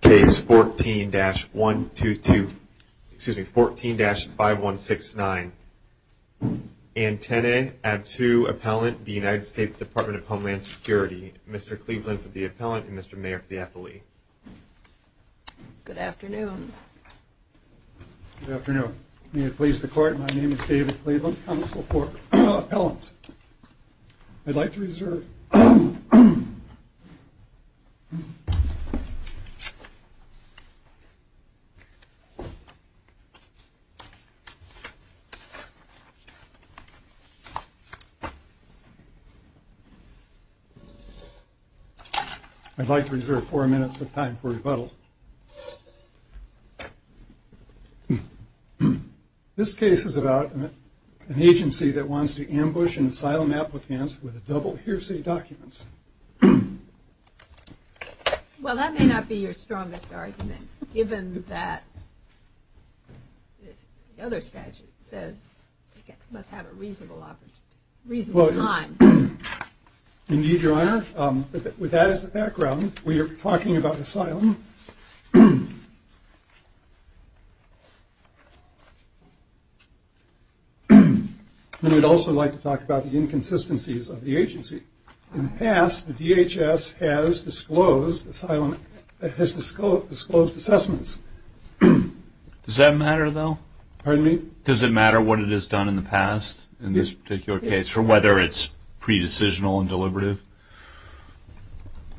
Case 14-5169, Anteneh Abtew Appellant, the United States Department of Homeland Security. Mr. Cleveland for the appellant and Mr. Mayer for the affilee. Good afternoon. Good afternoon. May it please the court, my name is David Cleveland, counsel for the appellant. I'd like to reserve... I'd like to reserve four minutes of time for rebuttal. This case is about an agency that wants to ambush and asylum applicants with double hearsay documents. Well that may not be your strongest argument, given that the other statute says it must have a reasonable time. Indeed, your honor, with that as the background, we are talking about asylum. We would also like to talk about the inconsistencies of the agency. In the past, the DHS has disclosed asylum, has disclosed assessments. Does that matter though? Pardon me? Does it matter what it has done in the past, in this particular case, or whether it's pre-decisional and deliberative?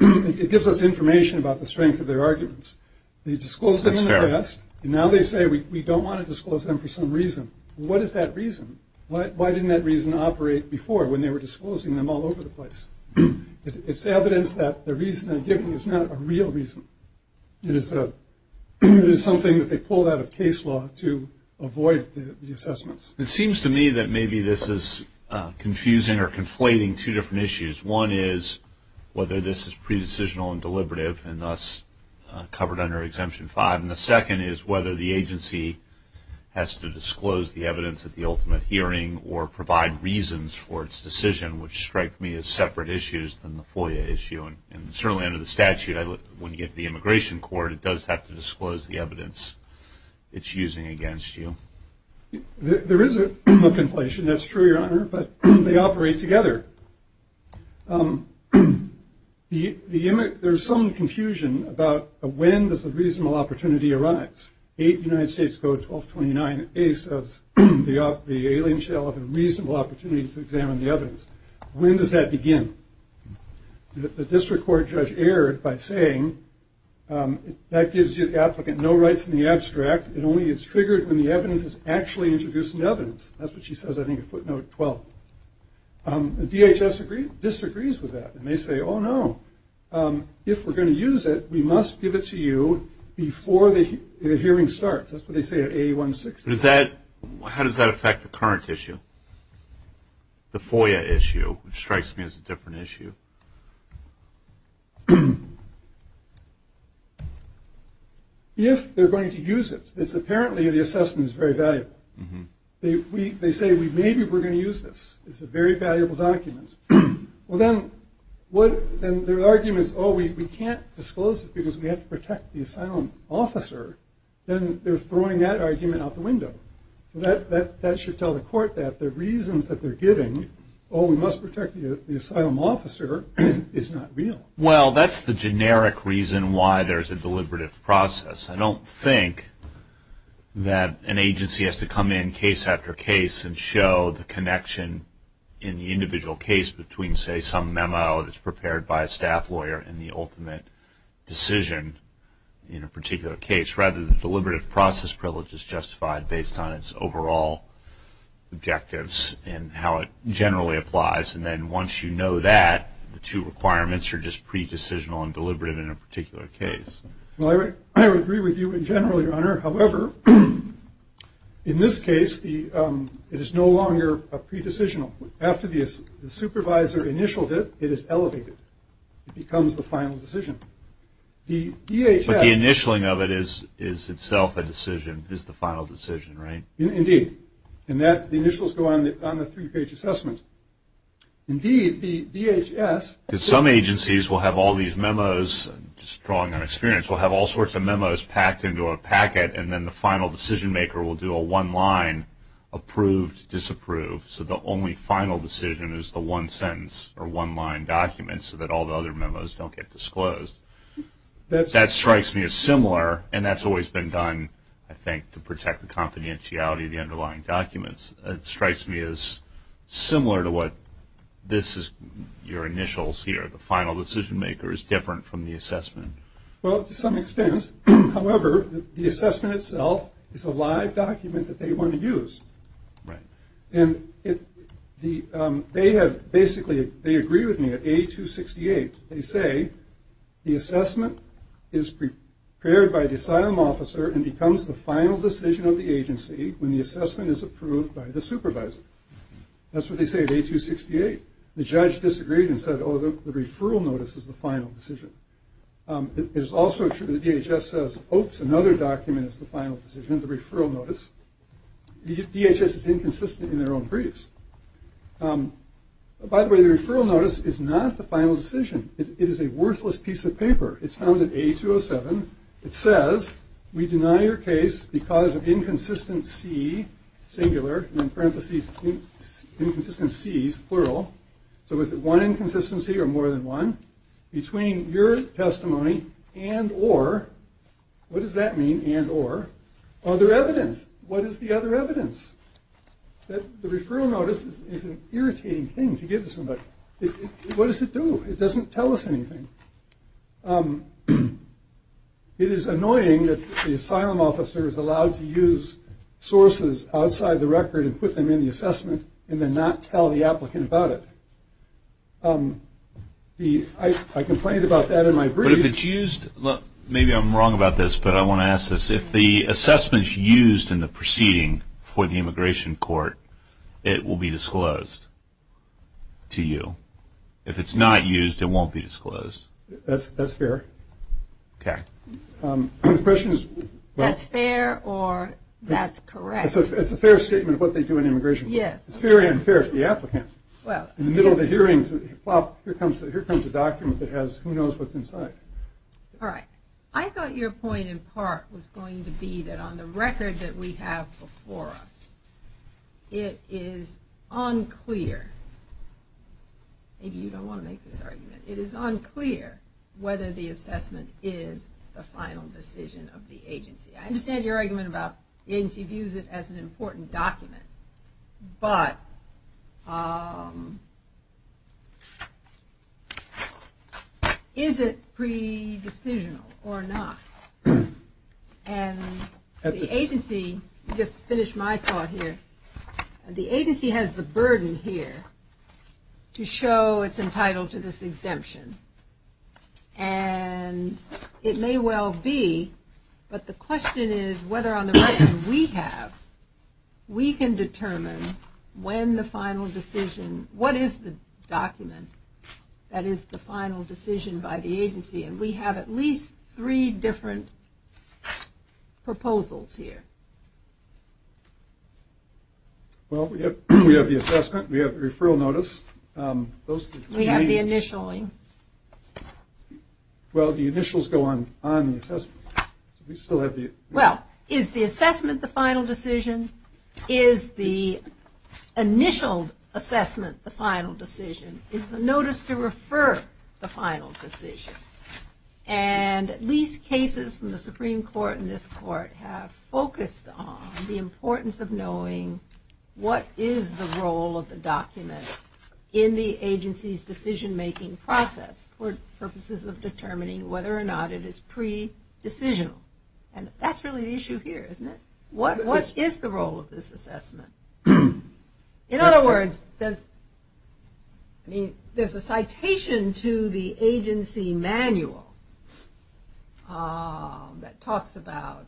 It gives us information about the strength of their arguments. They disclosed them in the past, and now they say we don't want to disclose them for some reason. What is that reason? Why didn't that reason operate before when they were disclosing them all over the place? It's evidence that the reason they're giving is not a real reason. It is something that they pulled out of case law to avoid the assessments. It seems to me that maybe this is confusing or conflating two different issues. One is whether this is pre-decisional and deliberative, and thus covered under Exemption 5. And the second is whether the agency has to disclose the evidence at the ultimate hearing or provide reasons for its decision, which strike me as separate issues than the FOIA issue. And certainly under the statute, when you get to the Immigration Court, it does have to disclose the evidence it's using against you. There is a conflation. That's true, Your Honor, but they operate together. There's some confusion about when does the reasonable opportunity arise? Eight United States go to 1229. A says the alien shell had a reasonable opportunity to examine the evidence. When does that begin? The district court judge erred by saying that gives you, the applicant, no rights in the abstract. It only is triggered when the evidence is actually introduced into evidence. That's what she says, I think, at footnote 12. DHS disagrees with that, and they say, oh, no, if we're going to use it, we must give it to you before the hearing starts. That's what they say at 8160. How does that affect the current issue? The FOIA issue strikes me as a different issue. If they're going to use it, apparently the assessment is very valuable. They say maybe we're going to use this. It's a very valuable document. Well, then their argument is, oh, we can't disclose it because we have to protect the asylum officer. Then they're throwing that argument out the window. That should tell the court that the reasons that they're giving, oh, we must protect the asylum officer, is not real. Well, that's the generic reason why there's a deliberative process. I don't think that an agency has to come in case after case and show the connection in the individual case between, say, some memo that's prepared by a staff lawyer and the ultimate decision in a particular case. Rather, the deliberative process privilege is justified based on its overall objectives and how it generally applies. And then once you know that, the two requirements are just pre-decisional and deliberative in a particular case. Well, I would agree with you in general, Your Honor. However, in this case, it is no longer pre-decisional. After the supervisor initialed it, it is elevated. It becomes the final decision. But the initialing of it is itself a decision, is the final decision, right? Indeed. And the initials go on the three-page assessment. Indeed, the DHS ---- Because some agencies will have all these memos, just drawing on experience, will have all sorts of memos packed into a packet, and then the final decision maker will do a one-line, approved, disapproved. So the only final decision is the one sentence or one-line document so that all the other memos don't get disclosed. That strikes me as similar, and that's always been done, I think, to protect the confidentiality of the underlying documents. It strikes me as similar to what this is, your initials here. The final decision maker is different from the assessment. Well, to some extent. However, the assessment itself is a live document that they want to use. Right. Basically, they agree with me at A268. They say the assessment is prepared by the asylum officer and becomes the final decision of the agency when the assessment is approved by the supervisor. That's what they say at A268. The judge disagreed and said, oh, the referral notice is the final decision. It is also true that the DHS says, oops, another document is the final decision, the referral notice. DHS is inconsistent in their own briefs. By the way, the referral notice is not the final decision. It is a worthless piece of paper. It's found at A207. It says, we deny your case because of inconsistency, singular, and in parentheses, inconsistencies, plural. So is it one inconsistency or more than one? Between your testimony and or, what does that mean, and or? Other evidence. What is the other evidence? The referral notice is an irritating thing to give to somebody. What does it do? It doesn't tell us anything. It is annoying that the asylum officer is allowed to use sources outside the record and put them in the assessment and then not tell the applicant about it. I complained about that in my brief. But if it's used, maybe I'm wrong about this, but I want to ask this. If the assessment is used in the proceeding for the immigration court, it will be disclosed to you. If it's not used, it won't be disclosed. That's fair. Okay. The question is. That's fair or that's correct? It's a fair statement of what they do in immigration court. Yes. It's fair and unfair to the applicant. In the middle of the hearings, here comes a document that has who knows what's inside. All right. I thought your point in part was going to be that on the record that we have before us, it is unclear. Maybe you don't want to make this argument. It is unclear whether the assessment is the final decision of the agency. I understand your argument about the agency views it as an important document. But is it pre-decisional or not? And the agency, just to finish my thought here, the agency has the burden here to show it's entitled to this exemption. And it may well be, but the question is whether on the record we have, we can determine when the final decision, what is the document that is the final decision by the agency? And we have at least three different proposals here. Well, we have the assessment. We have the referral notice. We have the initialing. Well, the initials go on the assessment. Well, is the assessment the final decision? Is the initial assessment the final decision? Is the notice to refer the final decision? And at least cases from the Supreme Court and this court have focused on the importance of knowing what is the role of the document in the agency's decision-making process for purposes of determining whether or not it is pre-decisional. And that's really the issue here, isn't it? What is the role of this assessment? In other words, there's a citation to the agency manual that talks about,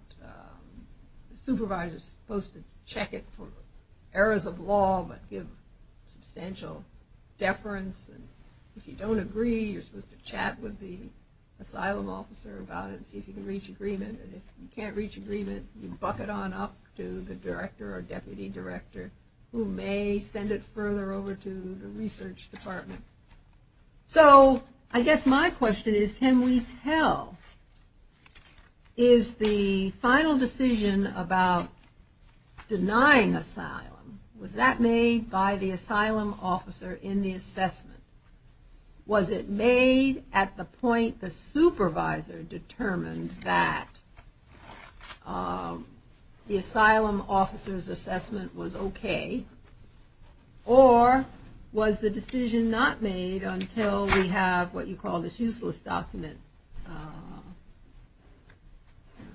the supervisor is supposed to check it for errors of law but give substantial deference. And if you don't agree, you're supposed to chat with the asylum officer about it and see if you can reach agreement. And if you can't reach agreement, you buck it on up to the director or deputy director, who may send it further over to the research department. So, I guess my question is, can we tell? Is the final decision about denying asylum, was that made by the asylum officer in the assessment? Was it made at the point the supervisor determined that the asylum officer's assessment was okay? Or was the decision not made until we have what you call this useless document,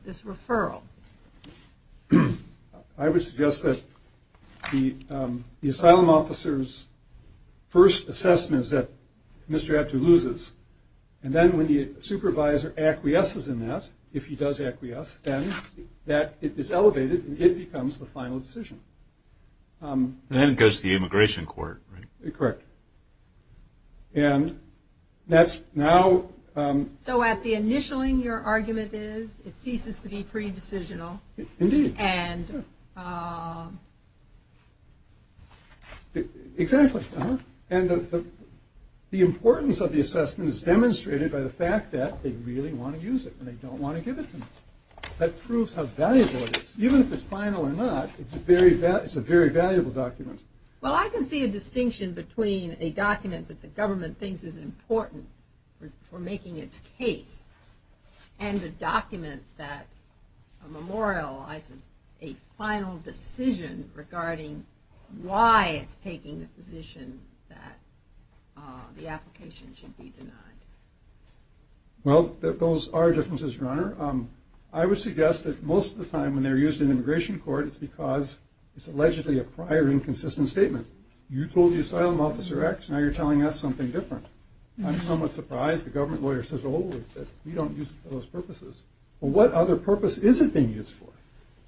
this referral? I would suggest that the asylum officer's first assessment is that Mr. Abtu loses. And then when the supervisor acquiesces in that, if he does acquiesce, then that is elevated and it becomes the final decision. Then it goes to the immigration court, right? Correct. And that's now... So at the initialing, your argument is it ceases to be pre-decisional. Indeed. And... Exactly. And the importance of the assessment is demonstrated by the fact that they really want to use it and they don't want to give it to me. That proves how valuable it is. Even if it's final or not, it's a very valuable document. Well, I can see a distinction between a document that the government thinks is important for making its case and a document that memorializes a final decision regarding why it's taking the position that the application should be denied. Well, those are differences, Your Honor. I would suggest that most of the time when they're used in immigration court, it's because it's allegedly a prior inconsistent statement. You told the asylum officer X, now you're telling us something different. I'm somewhat surprised the government lawyer says, oh, we don't use it for those purposes. Well, what other purpose is it being used for?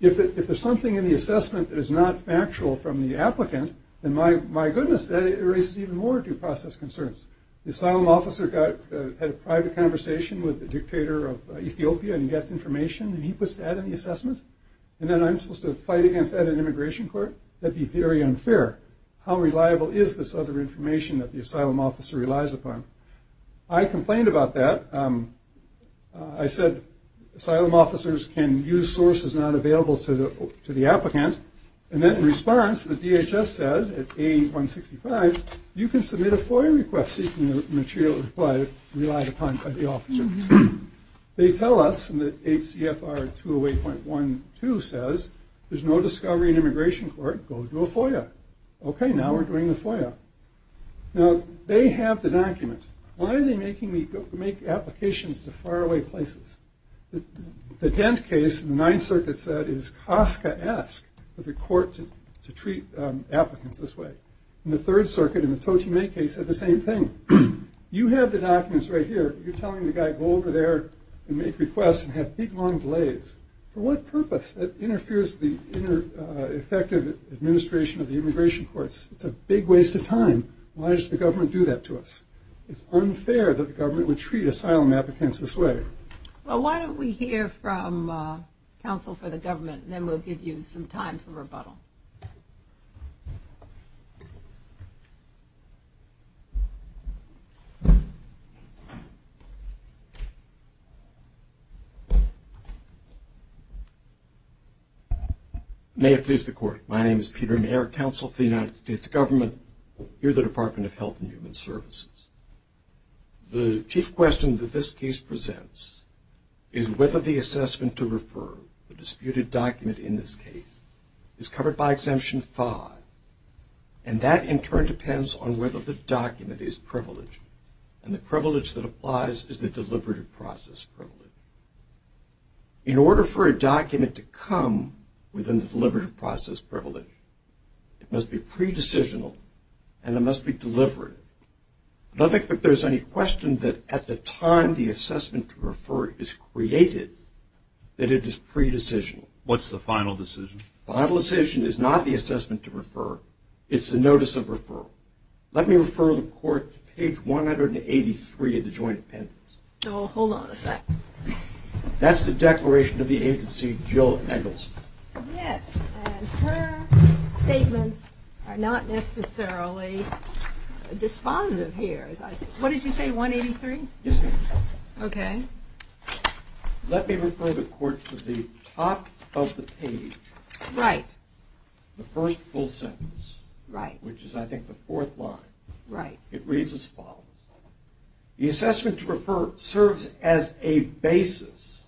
If there's something in the assessment that is not factual from the applicant, then my goodness, that raises even more due process concerns. The asylum officer had a private conversation with the dictator of Ethiopia and gets information, and he puts that in the assessment? And then I'm supposed to fight against that in immigration court? That'd be very unfair. How reliable is this other information that the asylum officer relies upon? I complained about that. I said asylum officers can use sources not available to the applicant. And then in response, the DHS said at A-165, you can submit a FOIA request seeking the material relied upon by the officer. They tell us, and the HCFR 208.12 says, there's no discovery in immigration court. Go do a FOIA. Okay, now we're doing the FOIA. Now, they have the document. Why are they making me make applications to faraway places? The Dent case in the Ninth Circuit said it is Kafkaesque for the court to treat applicants this way. And the Third Circuit in the Toti May case said the same thing. You have the documents right here. You're telling the guy, go over there and make requests and have big, long delays. For what purpose? That interferes with the effective administration of the immigration courts. It's a big waste of time. Why does the government do that to us? It's unfair that the government would treat asylum applicants this way. Well, why don't we hear from counsel for the government, and then we'll give you some time for rebuttal. Thank you. May it please the Court. My name is Peter Mayer, Counsel for the United States Government here at the Department of Health and Human Services. The chief question that this case presents is whether the assessment to refer the disputed document in this case is covered by Exemption 5. And that, in turn, depends on whether the document is privileged. And the privilege that applies is the deliberative process privilege. In order for a document to come within the deliberative process privilege, it must be pre-decisional and it must be delivered. I don't think that there's any question that at the time the assessment to refer is created, that it is pre-decisional. What's the final decision? The final decision is not the assessment to refer. It's the notice of referral. Let me refer the Court to page 183 of the joint appendix. Oh, hold on a second. That's the declaration of the agency, Jill Eggleston. Yes, and her statements are not necessarily dispositive here, as I see. What did you say, 183? Yes, ma'am. Okay. Let me refer the Court to the top of the page. Right. The first full sentence. Right. Which is, I think, the fourth line. Right. It reads as follows. The assessment to refer serves as a basis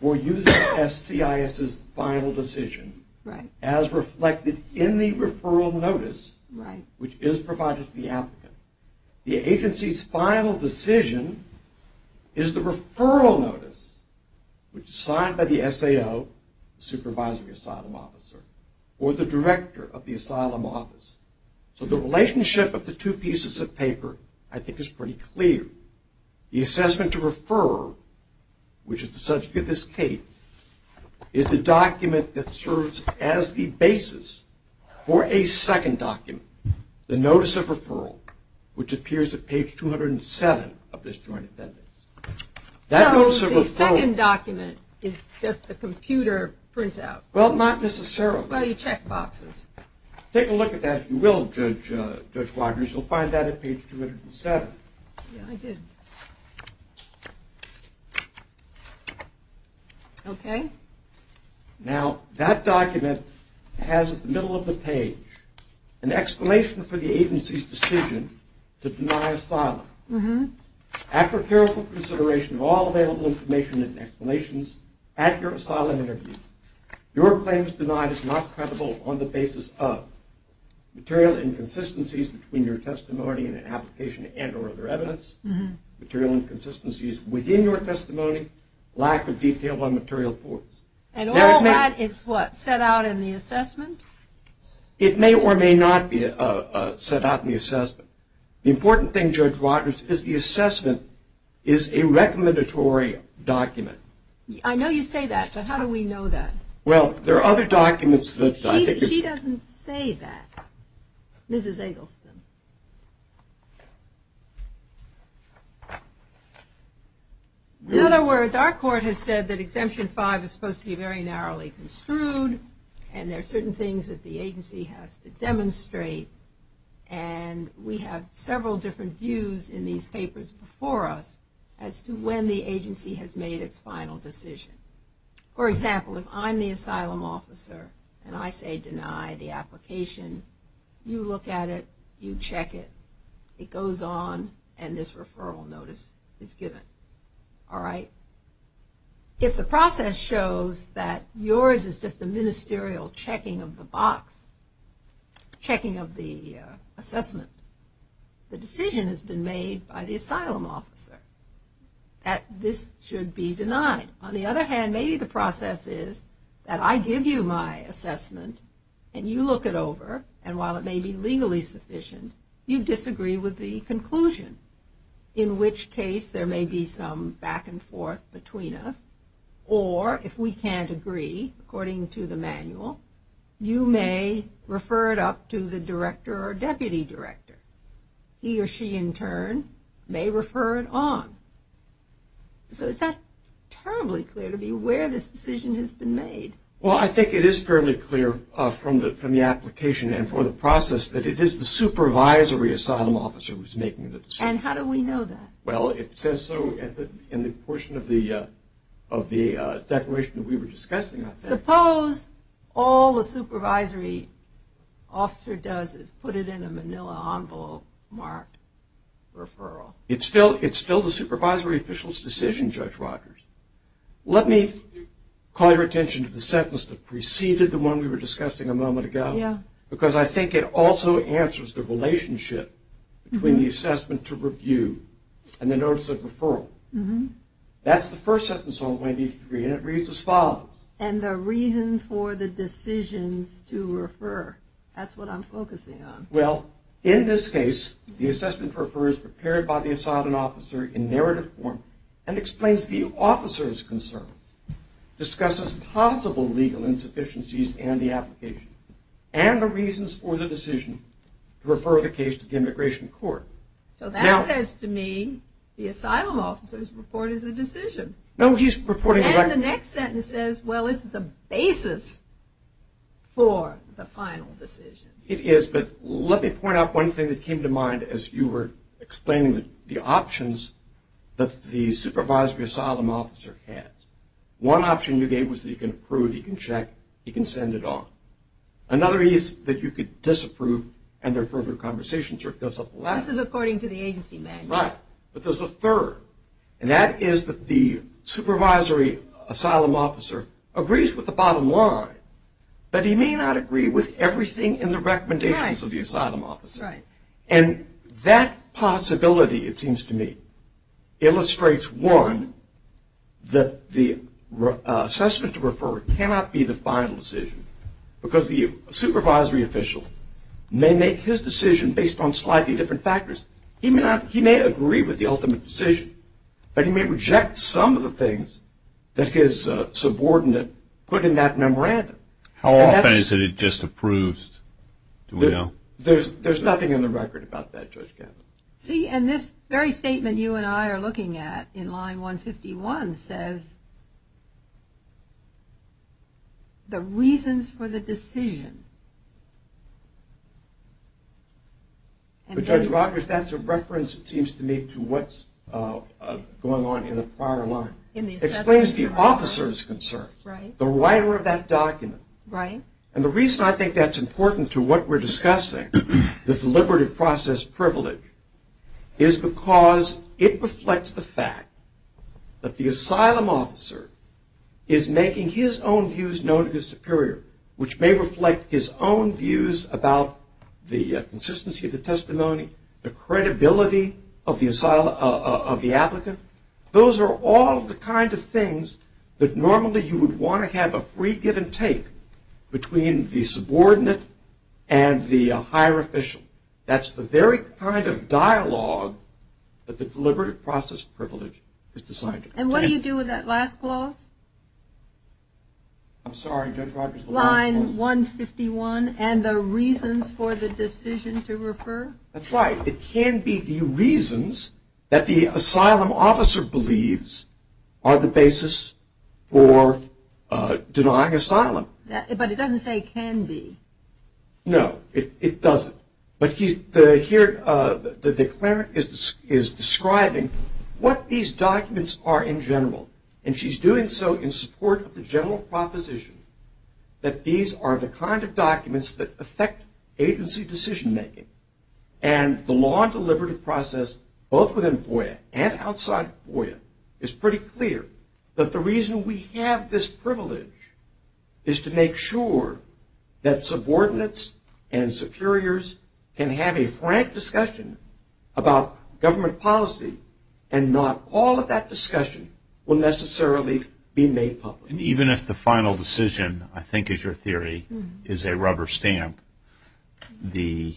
for using SCIS's final decision as reflected in the referral notice, which is provided to the applicant. The agency's final decision is the referral notice, which is signed by the SAO, the supervisory asylum officer, or the director of the asylum office. So the relationship of the two pieces of paper, I think, is pretty clear. The assessment to refer, which is the subject of this case, is the document that serves as the basis for a second document. The notice of referral, which appears at page 207 of this joint appendix. So the second document is just a computer printout. Well, not necessarily. Well, you check boxes. Take a look at that, if you will, Judge Waters. You'll find that at page 207. Yeah, I did. Okay. Now, that document has, at the middle of the page, an explanation for the agency's decision to deny asylum. After careful consideration of all available information and explanations at your asylum interview, your claims denied is not credible on the basis of material inconsistencies between your testimony and an application and or other evidence, material inconsistencies within your testimony, lack of detail on material reports. And all that is what? Set out in the assessment? It may or may not be set out in the assessment. The important thing, Judge Waters, is the assessment is a recommendatory document. I know you say that, but how do we know that? Well, there are other documents that I think. She doesn't say that. Mrs. Eggleston. In other words, our court has said that Exemption 5 is supposed to be very narrowly construed, and there are certain things that the agency has to demonstrate, and we have several different views in these papers before us as to when the agency has made its final decision. For example, if I'm the asylum officer and I say deny the application, you look at it, you check it, it goes on, and this referral notice is given. All right? If the process shows that yours is just a ministerial checking of the box, checking of the assessment, the decision has been made by the asylum officer that this should be denied. On the other hand, maybe the process is that I give you my assessment, and you look it over, and while it may be legally sufficient, you disagree with the conclusion, in which case there may be some back and forth between us, or if we can't agree, according to the manual, you may refer it up to the director or deputy director. He or she, in turn, may refer it on. So is that terribly clear to be where this decision has been made? Well, I think it is fairly clear from the application and for the process that it is the supervisory asylum officer who is making the decision. And how do we know that? Well, it says so in the portion of the declaration that we were discussing. Suppose all the supervisory officer does is put it in a manila envelope marked referral. It's still the supervisory official's decision, Judge Rogers. Let me call your attention to the sentence that preceded the one we were discussing a moment ago, because I think it also answers the relationship between the assessment to review and the notice of referral. That's the first sentence on 23, and it reads as follows. And the reason for the decisions to refer. That's what I'm focusing on. Well, in this case, the assessment refers prepared by the asylum officer in narrative form and explains the officer's concern, discusses possible legal insufficiencies in the application, and the reasons for the decision to refer the case to the immigration court. So that says to me the asylum officer's report is a decision. No, he's reporting. And the next sentence says, well, it's the basis for the final decision. It is, but let me point out one thing that came to mind as you were explaining the options that the supervisory asylum officer has. One option you gave was that he can approve, he can check, he can send it off. Another is that you could disapprove and there are further conversations. This is according to the agency manual. Right. But there's a third, and that is that the supervisory asylum officer agrees with the bottom line, but he may not agree with everything in the recommendations of the asylum officer. Right. And that possibility, it seems to me, illustrates, one, that the assessment to refer cannot be the final decision because the supervisory official may make his decision based on slightly different factors. He may agree with the ultimate decision, but he may reject some of the things that his subordinate put in that memorandum. How often is it he just approves? There's nothing in the record about that, Judge Gabbard. See, and this very statement you and I are looking at in line 151 says the reasons for the decision. But Judge Rogers, that's a reference, it seems to me, to what's going on in the prior line. It explains the officer's concerns, the writer of that document. Right. And the reason I think that's important to what we're discussing, the deliberative process privilege, is because it reflects the fact that the asylum officer is making his own views known to his superior, which may reflect his own views about the consistency of the testimony, the credibility of the applicant. Those are all the kinds of things that normally you would want to have a free give and take between the subordinate and the higher official. That's the very kind of dialogue that the deliberative process privilege is designed to have. And what do you do with that last clause? I'm sorry, Judge Rogers. Line 151 and the reasons for the decision to refer? That's right. It can be the reasons that the asylum officer believes are the basis for denying asylum. But it doesn't say can be. No, it doesn't. But here the declarant is describing what these documents are in general, and she's doing so in support of the general proposition that these are the kind of documents that affect agency decision-making. And the law and deliberative process, both within FOIA and outside FOIA, is pretty clear that the reason we have this privilege is to make sure that subordinates and superiors can have a frank discussion about government policy and not all of that discussion will necessarily be made public. And even if the final decision, I think is your theory, is a rubber stamp, the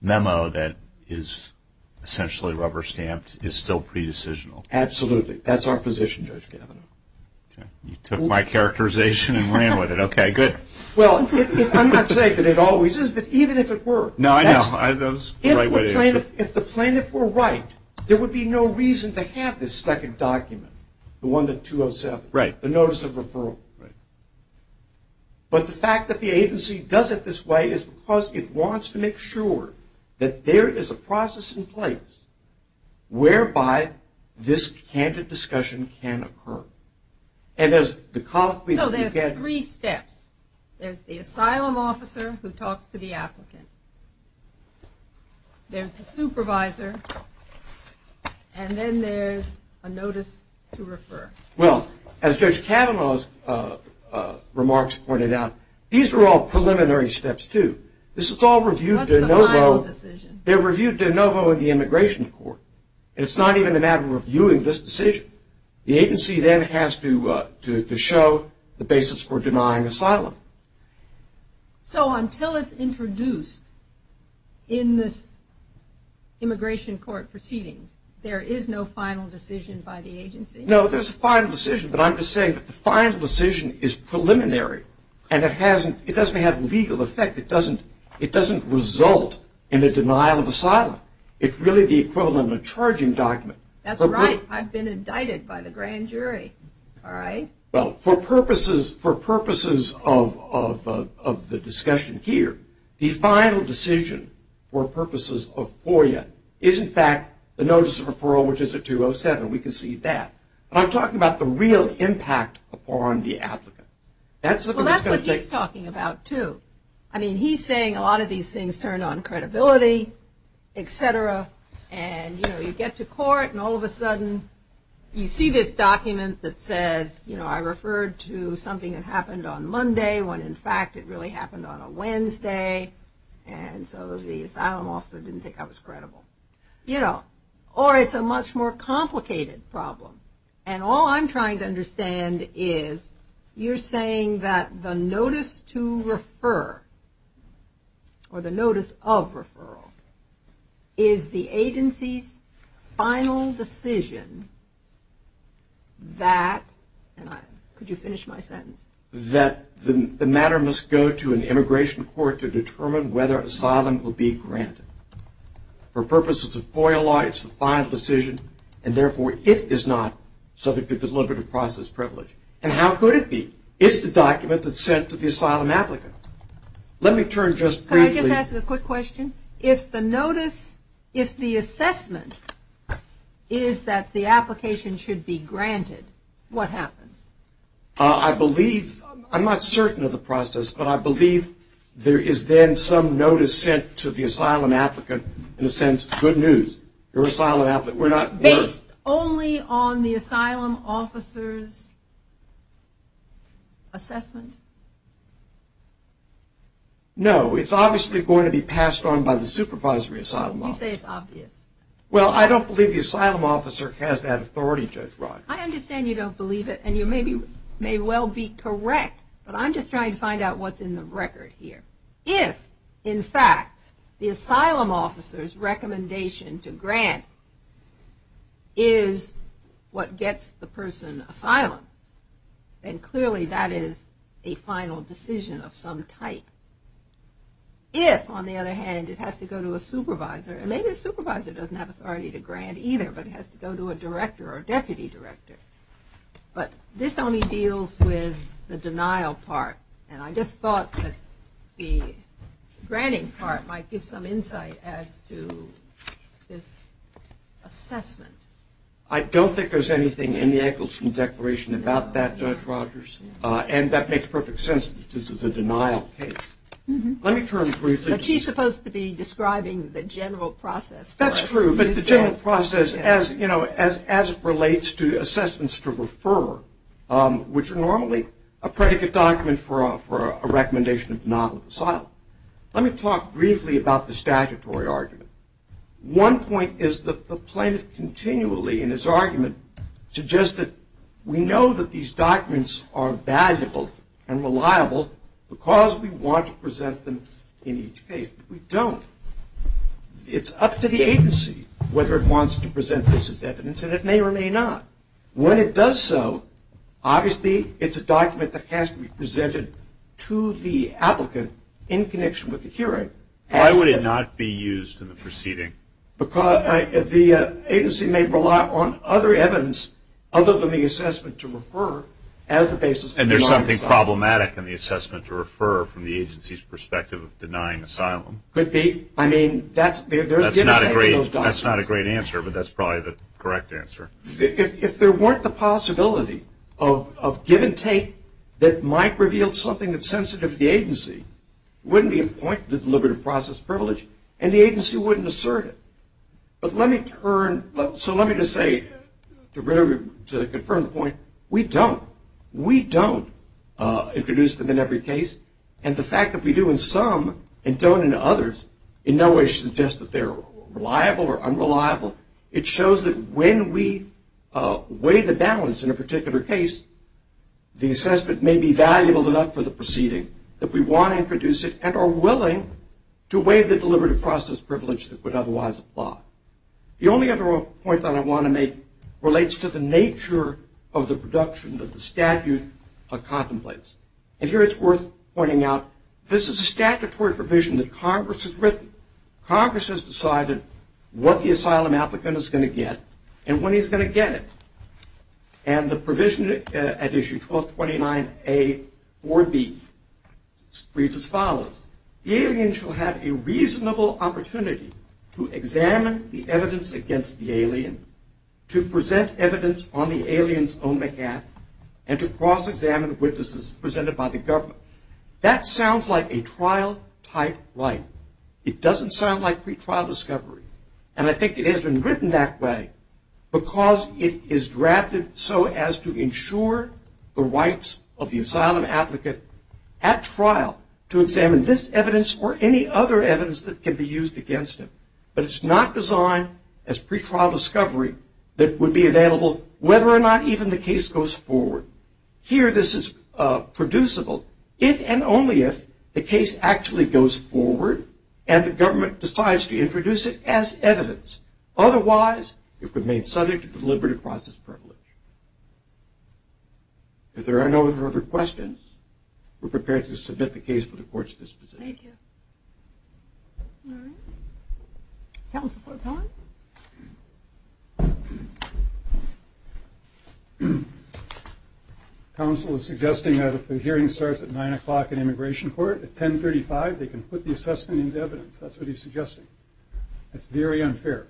memo that is essentially rubber stamped is still pre-decisional. Absolutely. That's our position, Judge Gavino. You took my characterization and ran with it. Okay, good. Well, I'm not saying that it always is, but even if it were. No, I know. If the plaintiff were right, there would be no reason to have this second document, the one to 207, the notice of referral. Right. But the fact that the agency does it this way is because it wants to make sure that there is a process in place whereby this candid discussion can occur. So there are three steps. There's the asylum officer who talks to the applicant. There's the supervisor. And then there's a notice to refer. Well, as Judge Gavino's remarks pointed out, these are all preliminary steps, too. This is all reviewed de novo. That's the final decision. They're reviewed de novo in the immigration court. It's not even a matter of reviewing this decision. The agency then has to show the basis for denying asylum. So until it's introduced in this immigration court proceedings, there is no final decision by the agency? No, there's a final decision. But I'm just saying that the final decision is preliminary and it doesn't have legal effect. It doesn't result in a denial of asylum. It's really the equivalent of a charging document. That's right. I've been indicted by the grand jury. All right. Well, for purposes of the discussion here, the final decision for purposes of FOIA is, in fact, the notice of referral, which is a 207. We can see that. But I'm talking about the real impact upon the applicant. Well, that's what he's talking about, too. I mean, he's saying a lot of these things turn on credibility, et cetera. And, you know, you get to court and all of a sudden you see this document that says, you know, I referred to something that happened on Monday when, in fact, it really happened on a Wednesday. And so the asylum officer didn't think I was credible. You know, or it's a much more complicated problem. And all I'm trying to understand is you're saying that the notice to refer, or the notice of referral, is the agency's final decision that, and could you finish my sentence? That the matter must go to an immigration court to determine whether asylum will be granted. For purposes of FOIA law, it's the final decision, and therefore it is not subject to deliberative process privilege. And how could it be? It's the document that's sent to the asylum applicant. Let me turn just briefly. Can I just ask a quick question? If the notice, if the assessment is that the application should be granted, what happens? I believe, I'm not certain of the process, but I believe there is then some notice sent to the asylum applicant in the sense, good news, you're an asylum applicant. Based only on the asylum officer's assessment? No, it's obviously going to be passed on by the supervisory asylum officer. You say it's obvious. Well, I don't believe the asylum officer has that authority, Judge Rodgers. I understand you don't believe it, and you may well be correct, but I'm just trying to find out what's in the record here. If, in fact, the asylum officer's recommendation to grant is what gets the person asylum, then clearly that is a final decision of some type. If, on the other hand, it has to go to a supervisor, and maybe the supervisor doesn't have authority to grant either, but it has to go to a director or deputy director. But this only deals with the denial part, and I just thought that the granting part might give some insight as to this assessment. I don't think there's anything in the Eggleston Declaration about that, Judge Rodgers, and that makes perfect sense that this is a denial case. Let me turn briefly to this. But she's supposed to be describing the general process. That's true, but the general process as it relates to assessments to refer, which are normally a predicate document for a recommendation of non-asylum. Let me talk briefly about the statutory argument. One point is that the plaintiff continually in his argument suggests that we know that these documents are valuable and reliable because we want to present them in each case, but we don't. It's up to the agency whether it wants to present this as evidence, and it may or may not. When it does so, obviously it's a document that has to be presented to the applicant in connection with the hearing. Why would it not be used in the proceeding? Because the agency may rely on other evidence other than the assessment to refer as the basis for denying asylum. And there's something problematic in the assessment to refer from the agency's perspective of denying asylum. Could be. I mean, that's not a great answer, but that's probably the correct answer. If there weren't the possibility of give and take that might reveal something that's sensitive to the agency, it wouldn't be a point to the deliberative process privilege, and the agency wouldn't assert it. But let me turn, so let me just say to confirm the point, we don't. We don't introduce them in every case. And the fact that we do in some and don't in others in no way suggests that they're reliable or unreliable. It shows that when we weigh the balance in a particular case, the assessment may be valuable enough for the proceeding that we want to introduce it and are willing to weigh the deliberative process privilege that would otherwise apply. The only other point that I want to make relates to the nature of the production that the statute contemplates. And here it's worth pointing out, this is a statutory provision that Congress has written. Congress has decided what the asylum applicant is going to get and when he's going to get it. And the provision at issue 1229A4B reads as follows. The alien shall have a reasonable opportunity to examine the evidence against the alien, to present evidence on the alien's own behalf, and to cross-examine witnesses presented by the government. That sounds like a trial-type right. It doesn't sound like pretrial discovery. And I think it has been written that way because it is drafted so as to ensure the rights of the asylum applicant at trial to examine this evidence or any other evidence that can be used against him. But it's not designed as pretrial discovery that would be available whether or not even the case goes forward. Here this is producible if and only if the case actually goes forward and the government decides to introduce it as evidence. Otherwise, it remains subject to deliberative process privilege. If there are no further questions, we're prepared to submit the case for the Court's disposition. Thank you. All right. Counsel for time. Counsel is suggesting that if the hearing starts at 9 o'clock in Immigration Court, at 1035, they can put the assessment into evidence. That's what he's suggesting. That's very unfair.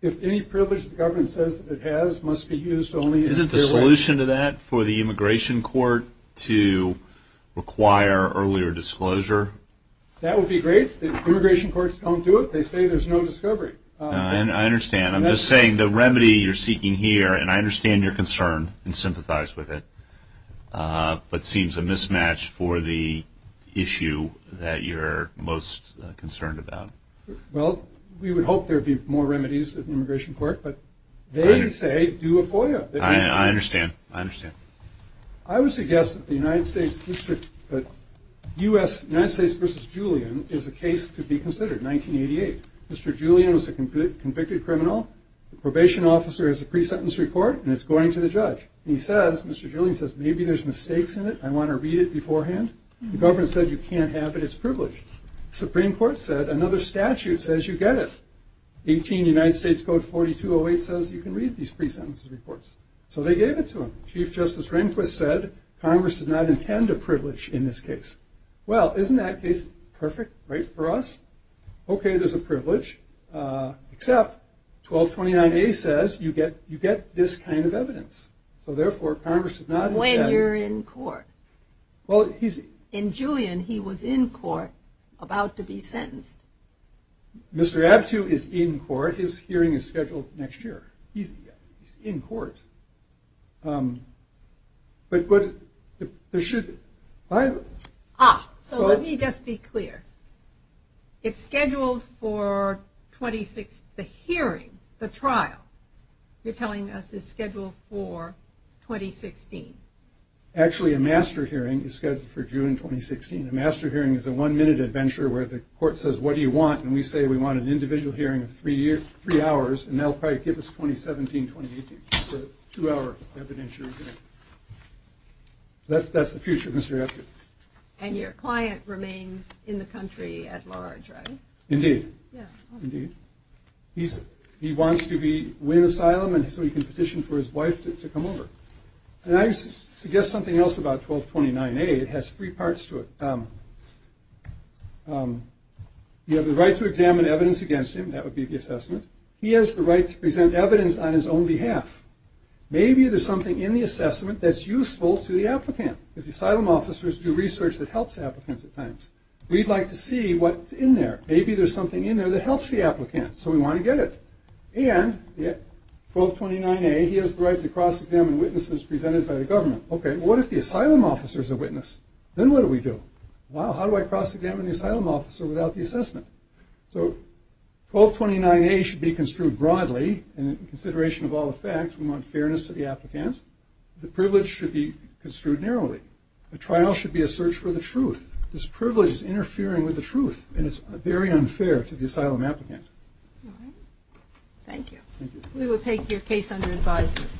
If any privilege the government says that it has must be used only in a fair way. Isn't the solution to that for the Immigration Court to require earlier disclosure? That would be great. The Immigration Courts don't do it. They say there's no discovery. I understand. I'm just saying the remedy you're seeking here, and I understand your concern and sympathize with it, but seems a mismatch for the issue that you're most concerned about. Well, we would hope there would be more remedies at the Immigration Court, but they say do a FOIA. I understand. I understand. I would suggest that the United States versus Julian is a case to be considered, 1988. Mr. Julian was a convicted criminal. The probation officer has a pre-sentence report, and it's going to the judge. He says, Mr. Julian says, maybe there's mistakes in it. I want to read it beforehand. The government said you can't have it. It's privileged. The Supreme Court said another statute says you get it. 18 United States Code 4208 says you can read these pre-sentence reports. So they gave it to him. Chief Justice Rehnquist said Congress did not intend a privilege in this case. Well, isn't that case perfect, right, for us? Okay, there's a privilege, except 1229A says you get this kind of evidence. So, therefore, Congress did not intend it. When you're in court. In Julian, he was in court, about to be sentenced. Mr. Aptu is in court. His hearing is scheduled next year. He's in court. Ah, so let me just be clear. It's scheduled for 2016. The hearing, the trial, you're telling us is scheduled for 2016. Actually, a master hearing is scheduled for June 2016. A master hearing is a one-minute adventure where the court says, what do you want? And we say we want an individual hearing of three hours, and they'll probably give us 2017, 2018. So two-hour evidentiary hearing. That's the future, Mr. Aptu. And your client remains in the country at large, right? Indeed. Indeed. He wants to win asylum so he can petition for his wife to come over. And I suggest something else about 1229A. It has three parts to it. You have the right to examine evidence against him. That would be the assessment. He has the right to present evidence on his own behalf. Maybe there's something in the assessment that's useful to the applicant. Because asylum officers do research that helps applicants at times. We'd like to see what's in there. Maybe there's something in there that helps the applicant. So we want to get it. And 1229A, he has the right to cross-examine witnesses presented by the government. Okay, well, what if the asylum officer is a witness? Then what do we do? Well, how do I cross-examine the asylum officer without the assessment? So 1229A should be construed broadly in consideration of all the facts. We want fairness to the applicants. The privilege should be construed narrowly. This privilege is interfering with the truth, and it's very unfair to the asylum applicant. Thank you. We will take your case under advisement.